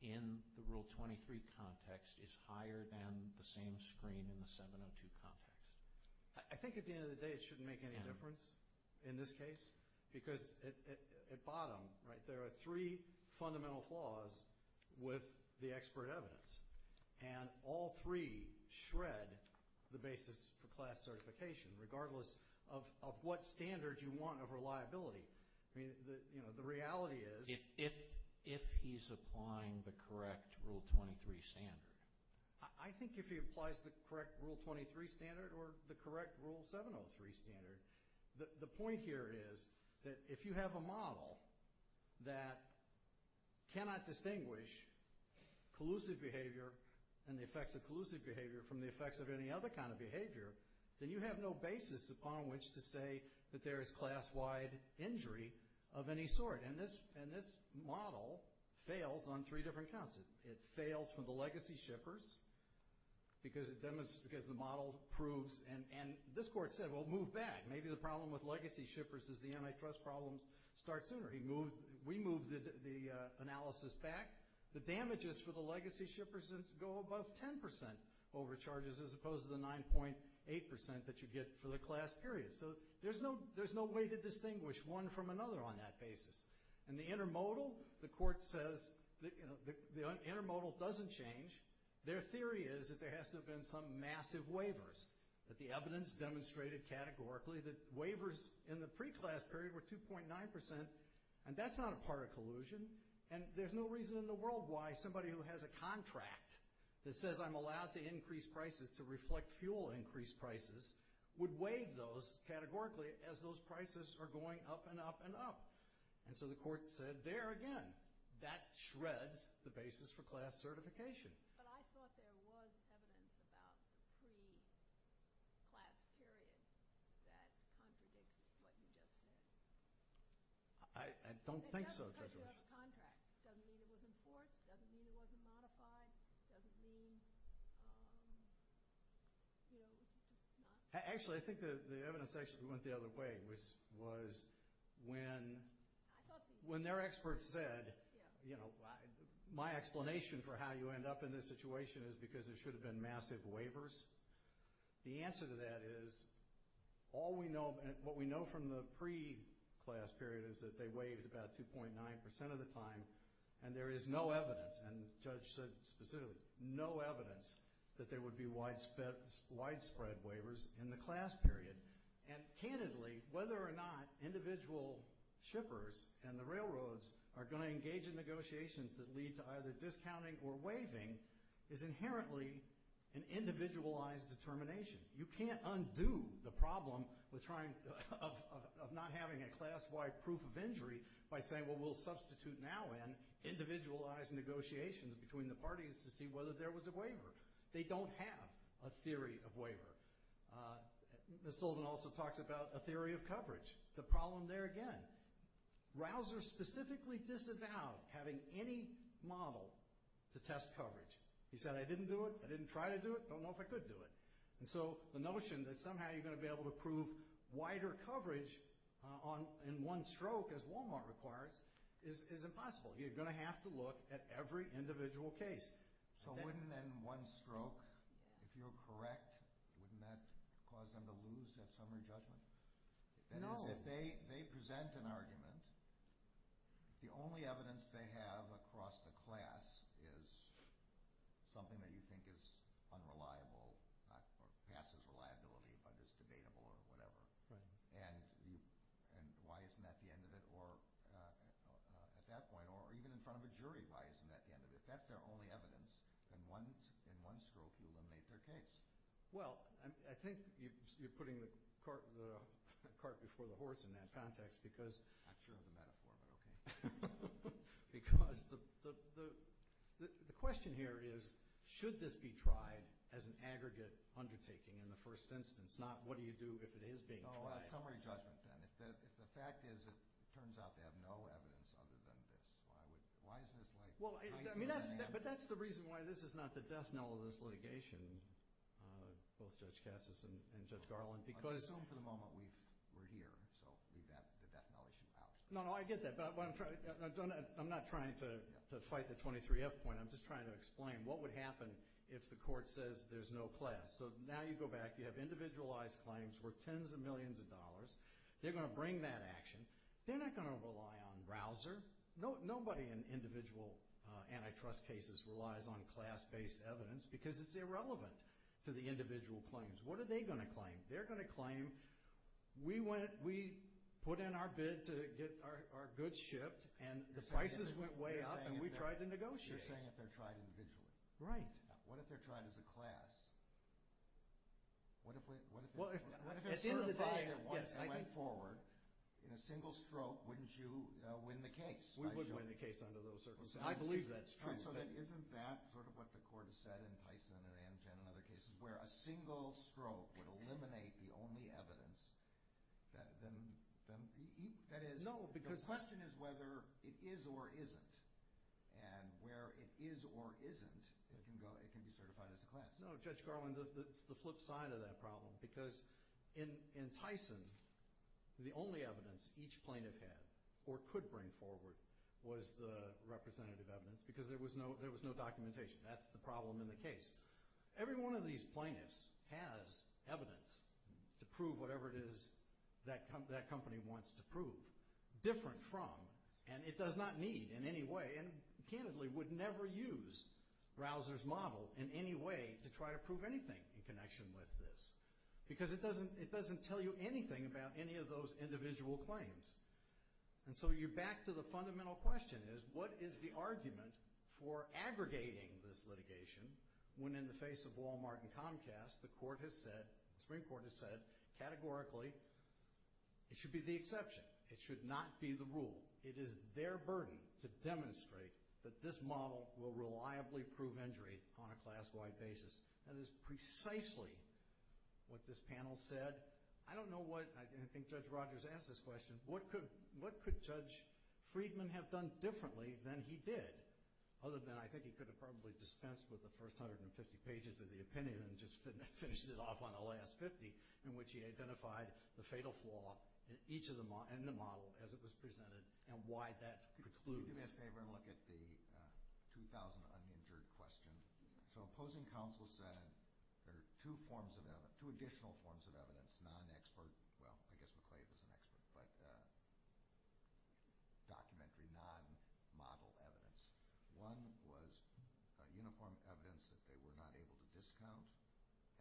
in the Rule 23 context is higher than the same screen in the 702 context. I think at the end of the day it shouldn't make any difference in this case, because at bottom right there are three fundamental flaws with the expert evidence, and all three shred the basis for class certification, regardless of what standard you want of reliability. I mean, you know, the reality is— If he's applying the correct Rule 23 standard. I think if he applies the correct Rule 23 standard or the correct Rule 703 standard. The point here is that if you have a model that cannot distinguish collusive behavior and the effects of collusive behavior from the effects of any other kind of behavior, then you have no basis upon which to say that there is class-wide injury of any sort. And this model fails on three different counts. It fails for the legacy shippers because the model proves— And this court said, well, move back. Maybe the problem with legacy shippers is the antitrust problems start sooner. We moved the analysis back. The damages for the legacy shippers go above 10% over charges as opposed to the 9.8% that you get for the class period. So there's no way to distinguish one from another on that basis. And the intermodal, the court says the intermodal doesn't change. Their theory is that there has to have been some massive waivers, that the evidence demonstrated categorically that waivers in the pre-class period were 2.9%, and that's not a part of collusion, and there's no reason in the world why somebody who has a contract that says I'm allowed to increase prices to reflect fuel increase prices would waive those categorically as those prices are going up and up and up. And so the court said, there again, that shreds the basis for class certification. But I thought there was evidence about pre-class period that contradicts what you just said. I don't think so. It doesn't mean you have a contract. It doesn't mean it was enforced. It doesn't mean it wasn't modified. It doesn't mean, you know, not— Actually, I think the evidence actually went the other way, which was when their experts said, you know, my explanation for how you end up in this situation is because there should have been massive waivers. The answer to that is all we know— what we know from the pre-class period is that they waived about 2.9% of the time, and there is no evidence, and the judge said specifically, no evidence that there would be widespread waivers in the class period. And candidly, whether or not individual shippers and the railroads are going to engage in negotiations that lead to either discounting or waiving is inherently an individualized determination. You can't undo the problem of not having a class-wide proof of injury by saying, well, we'll substitute now in individualized negotiations between the parties to see whether there was a waiver. They don't have a theory of waiver. Ms. Solden also talks about a theory of coverage. The problem there, again, Rausser specifically disavowed having any model to test coverage. He said, I didn't do it, I didn't try to do it, don't know if I could do it. And so the notion that somehow you're going to be able to prove wider coverage in one stroke, as Walmart requires, is impossible. You're going to have to look at every individual case. So wouldn't then one stroke, if you're correct, wouldn't that cause them to lose that summary judgment? No. That is, if they present an argument, the only evidence they have across the class is something that you think is unreliable or passes reliability but is debatable or whatever. And why isn't that the end of it? Or at that point, or even in front of a jury, why isn't that the end of it? If that's their only evidence, then in one stroke you eliminate their case. Well, I think you're putting the cart before the horse in that context because— I'm not sure of the metaphor, but okay. Because the question here is, should this be tried as an aggregate undertaking in the first instance, not what do you do if it is being tried? Oh, that's summary judgment then. If the fact is it turns out they have no evidence other than this, why is this like— But that's the reason why this is not the death knell of this litigation, both Judge Cassis and Judge Garland. Let's assume for the moment we're here, so leave the death knell issue out. No, no, I get that, but I'm not trying to fight the 23F point. I'm just trying to explain what would happen if the court says there's no class. So now you go back, you have individualized claims worth tens of millions of dollars. They're going to bring that action. They're not going to rely on browser. Nobody in individual antitrust cases relies on class-based evidence because it's irrelevant to the individual claims. What are they going to claim? They're going to claim we put in our bid to get our goods shipped, and the prices went way up, and we tried to negotiate. You're saying if they're tried individually. Right. What if they're tried as a class? At the end of the day, yes, I think— What if it's certified at once and went forward? In a single stroke, wouldn't you win the case? We would win the case under those circumstances. I believe that's true. All right, so isn't that sort of what the court has said in Tyson and Amgen and other cases, where a single stroke would eliminate the only evidence that is— No, because— The question is whether it is or isn't, and where it is or isn't, it can be certified as a class. No, Judge Garland, it's the flip side of that problem, because in Tyson, the only evidence each plaintiff had or could bring forward was the representative evidence because there was no documentation. That's the problem in the case. Every one of these plaintiffs has evidence to prove whatever it is that company wants to prove, different from, and it does not need in any way, and, candidly, would never use Rausser's model in any way to try to prove anything in connection with this, because it doesn't tell you anything about any of those individual claims. And so you're back to the fundamental question is, what is the argument for aggregating this litigation when in the face of Walmart and Comcast, the Supreme Court has said categorically, it should be the exception. It should not be the rule. It is their burden to demonstrate that this model will reliably prove injury on a class-wide basis. That is precisely what this panel said. I don't know what, and I think Judge Rogers asked this question, what could Judge Friedman have done differently than he did, other than I think he could have probably dispensed with the first 150 pages of the opinion and just finished it off on the last 50, in which he identified the fatal flaw in the model as it was presented and why that precludes. Could you do me a favor and look at the 2,000 uninjured question? So opposing counsel said there are two additional forms of evidence, non-expert, well, I guess McClave is an expert, but documentary, non-model evidence. One was uniform evidence that they were not able to discount,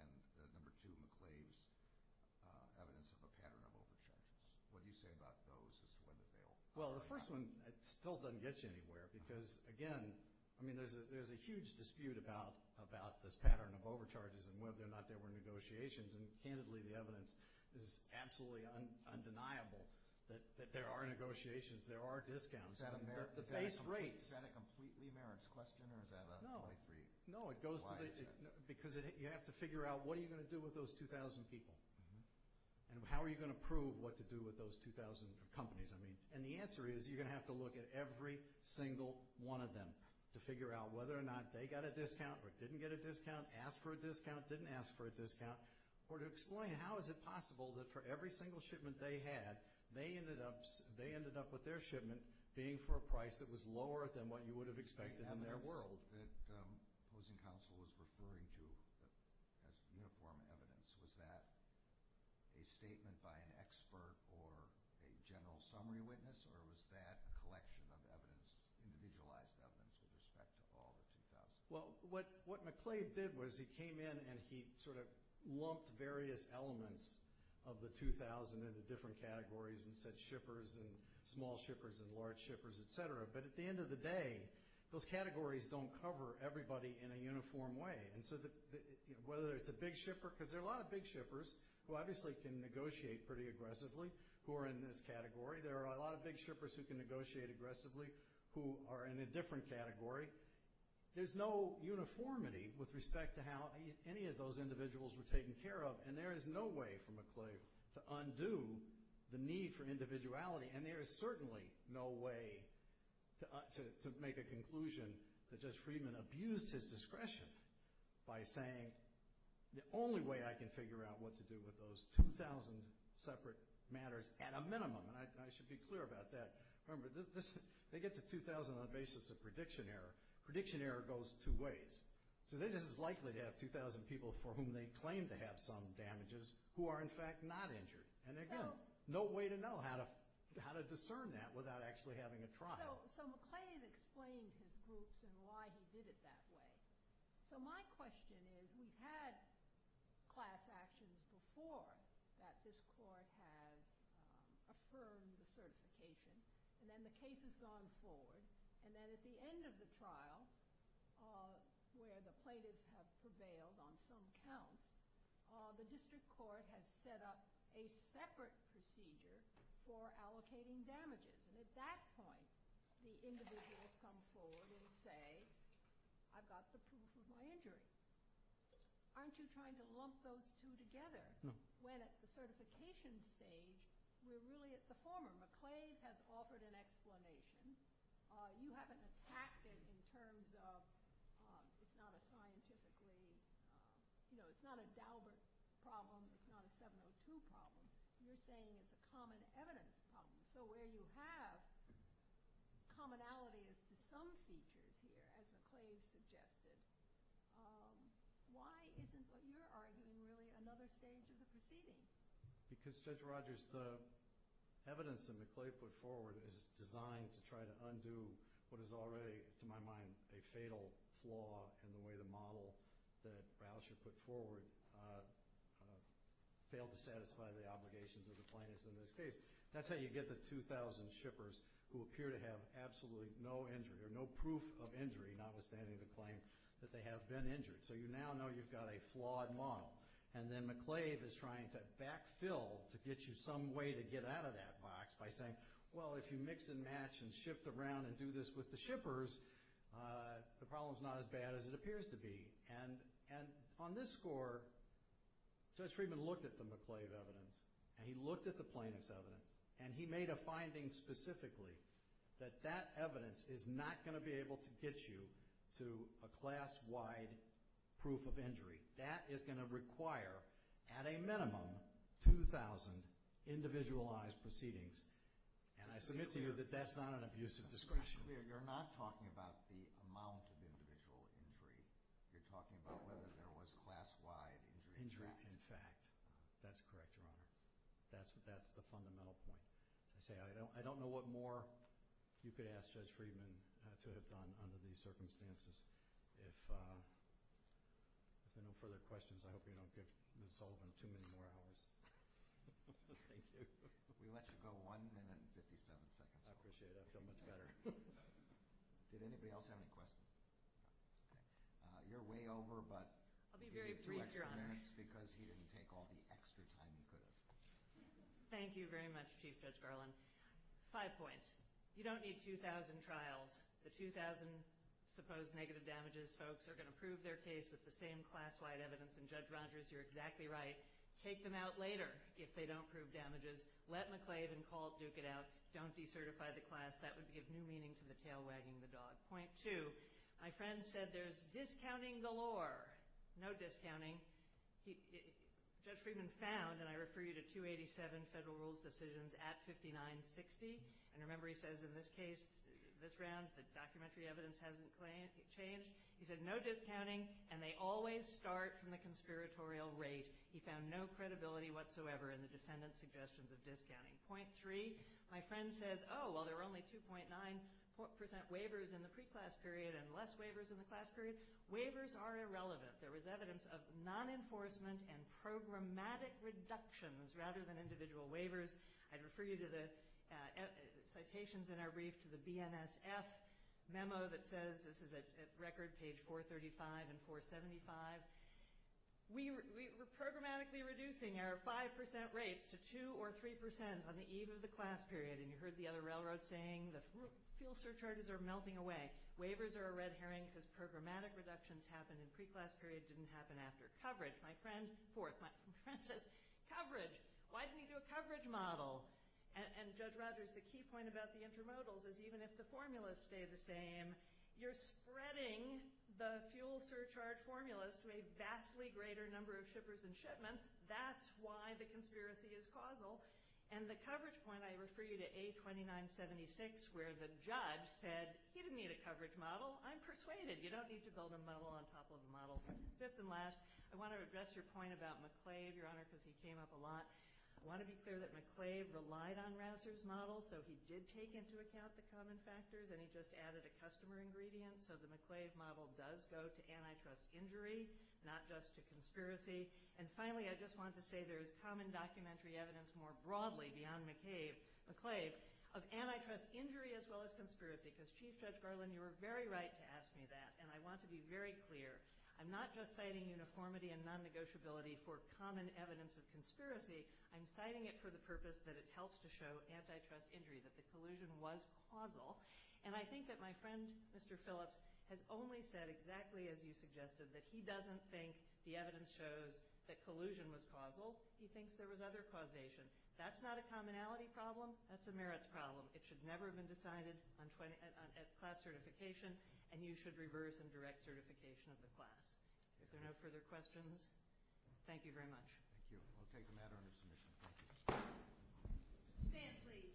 and the number two, McClave's evidence of a pattern of overcharges. What do you say about those as to whether they will? Well, the first one still doesn't get you anywhere because, again, I mean there's a huge dispute about this pattern of overcharges and whether or not there were negotiations, and candidly the evidence is absolutely undeniable that there are negotiations, there are discounts, the base rates. Is that a completely merits question or is that a 23? No, it goes to the, because you have to figure out what are you going to do with those 2,000 people and how are you going to prove what to do with those 2,000 companies. And the answer is you're going to have to look at every single one of them to figure out whether or not they got a discount or didn't get a discount, asked for a discount, didn't ask for a discount, or to explain how is it possible that for every single shipment they had, they ended up with their shipment being for a price that was lower than what you would have expected in their world. The report that opposing counsel was referring to as uniform evidence, was that a statement by an expert or a general summary witness or was that a collection of evidence, individualized evidence, with respect to all the 2,000? Well, what McClave did was he came in and he sort of lumped various elements of the 2,000 into different categories and said shippers and small shippers and large shippers, et cetera. But at the end of the day, those categories don't cover everybody in a uniform way. And so whether it's a big shipper, because there are a lot of big shippers who obviously can negotiate pretty aggressively, who are in this category. There are a lot of big shippers who can negotiate aggressively, who are in a different category. There's no uniformity with respect to how any of those individuals were taken care of. And there is no way for McClave to undo the need for individuality. And there is certainly no way to make a conclusion that Judge Friedman abused his discretion by saying the only way I can figure out what to do with those 2,000 separate matters at a minimum, and I should be clear about that. Remember, they get to 2,000 on the basis of prediction error. Prediction error goes two ways. So they're just as likely to have 2,000 people for whom they claim to have some damages who are, in fact, not injured. And again, no way to know how to discern that without actually having a trial. So McClave explained his groups and why he did it that way. So my question is we've had class actions before that this court has affirmed the certification, and then the case has gone forward, and then at the end of the trial, where the plaintiffs have prevailed on some counts, the district court has set up a separate procedure for allocating damages. And at that point, the individuals come forward and say, I've got the proof of my injury. Aren't you trying to lump those two together? When at the certification stage, we're really at the former. McClave has offered an explanation. You haven't attacked it in terms of it's not a scientifically, you know, it's not a Daubert problem, it's not a 702 problem. You're saying it's a common evidence problem. So where you have commonality as to some features here, as McClave suggested, why isn't what you're arguing really another stage of the proceeding? Because, Judge Rogers, the evidence that McClave put forward is designed to try to undo what is already, to my mind, a fatal flaw in the way the model that Rauscher put forward failed to satisfy the obligations of the plaintiffs in this case. That's how you get the 2,000 shippers who appear to have absolutely no injury or no proof of injury, notwithstanding the claim that they have been injured. So you now know you've got a flawed model. And then McClave is trying to backfill to get you some way to get out of that box by saying, well, if you mix and match and shift around and do this with the shippers, the problem's not as bad as it appears to be. And on this score, Judge Friedman looked at the McClave evidence, and he looked at the plaintiff's evidence, and he made a finding specifically that that evidence is not going to be able to get you to a class-wide proof of injury. That is going to require, at a minimum, 2,000 individualized proceedings. And I submit to you that that's not an abusive discretion. You're not talking about the amount of individual injury. You're talking about whether there was class-wide injury in fact. Injury in fact. That's correct, Your Honor. That's the fundamental point. I say I don't know what more you could ask Judge Friedman to have done under these circumstances. If there are no further questions, I hope you don't give Ms. Sullivan too many more hours. Thank you. We let you go one minute and 57 seconds. I appreciate it. I feel much better. Did anybody else have any questions? You're way over, but you need two extra minutes because he didn't take all the extra time he could have. Thank you very much, Chief Judge Garland. Five points. One point. You don't need 2,000 trials. The 2,000 supposed negative damages folks are going to prove their case with the same class-wide evidence. And, Judge Rogers, you're exactly right. Take them out later if they don't prove damages. Let McClave and Colt duke it out. Don't decertify the class. That would give new meaning to the tail wagging the dog. Point two. My friend said there's discounting galore. No discounting. Judge Friedman found, and I refer you to 287 federal rules decisions at 5960. And remember, he says in this case, this round, the documentary evidence hasn't changed. He said no discounting, and they always start from the conspiratorial rate. He found no credibility whatsoever in the defendant's suggestions of discounting. Point three. My friend says, oh, well, there were only 2.9 percent waivers in the pre-class period and less waivers in the class period. Waivers are irrelevant. There was evidence of non-enforcement and programmatic reductions rather than individual waivers. I'd refer you to the citations in our brief to the BNSF memo that says, this is at record, page 435 and 475. We were programmatically reducing our 5 percent rates to 2 or 3 percent on the eve of the class period. And you heard the other railroad saying the fuel surcharges are melting away. Waivers are a red herring because programmatic reductions happened in pre-class period, didn't happen after coverage. My friend, fourth, my friend says coverage. Why didn't he do a coverage model? And Judge Rogers, the key point about the intramodals is even if the formulas stay the same, you're spreading the fuel surcharge formulas to a vastly greater number of shippers and shipments. That's why the conspiracy is causal. And the coverage point, I refer you to A2976 where the judge said he didn't need a coverage model. I'm persuaded. You don't need to build a model on top of a model. Fifth and last, I want to address your point about McClave, Your Honor, because he came up a lot. I want to be clear that McClave relied on Rausser's model, so he did take into account the common factors, and he just added a customer ingredient. So the McClave model does go to antitrust injury, not just to conspiracy. And finally, I just want to say there is common documentary evidence more broadly beyond McClave of antitrust injury as well as conspiracy, because, Chief Judge Garland, you were very right to ask me that, and I want to be very clear. I'm not just citing uniformity and non-negotiability for common evidence of conspiracy. I'm citing it for the purpose that it helps to show antitrust injury, that the collusion was causal. And I think that my friend, Mr. Phillips, has only said exactly as you suggested, that he doesn't think the evidence shows that collusion was causal. He thinks there was other causation. That's not a commonality problem. That's a merits problem. It should never have been decided at class certification, and you should reverse and direct certification of the class. If there are no further questions, thank you very much. Thank you. I'll take the matter under submission. Thank you. Stand, please.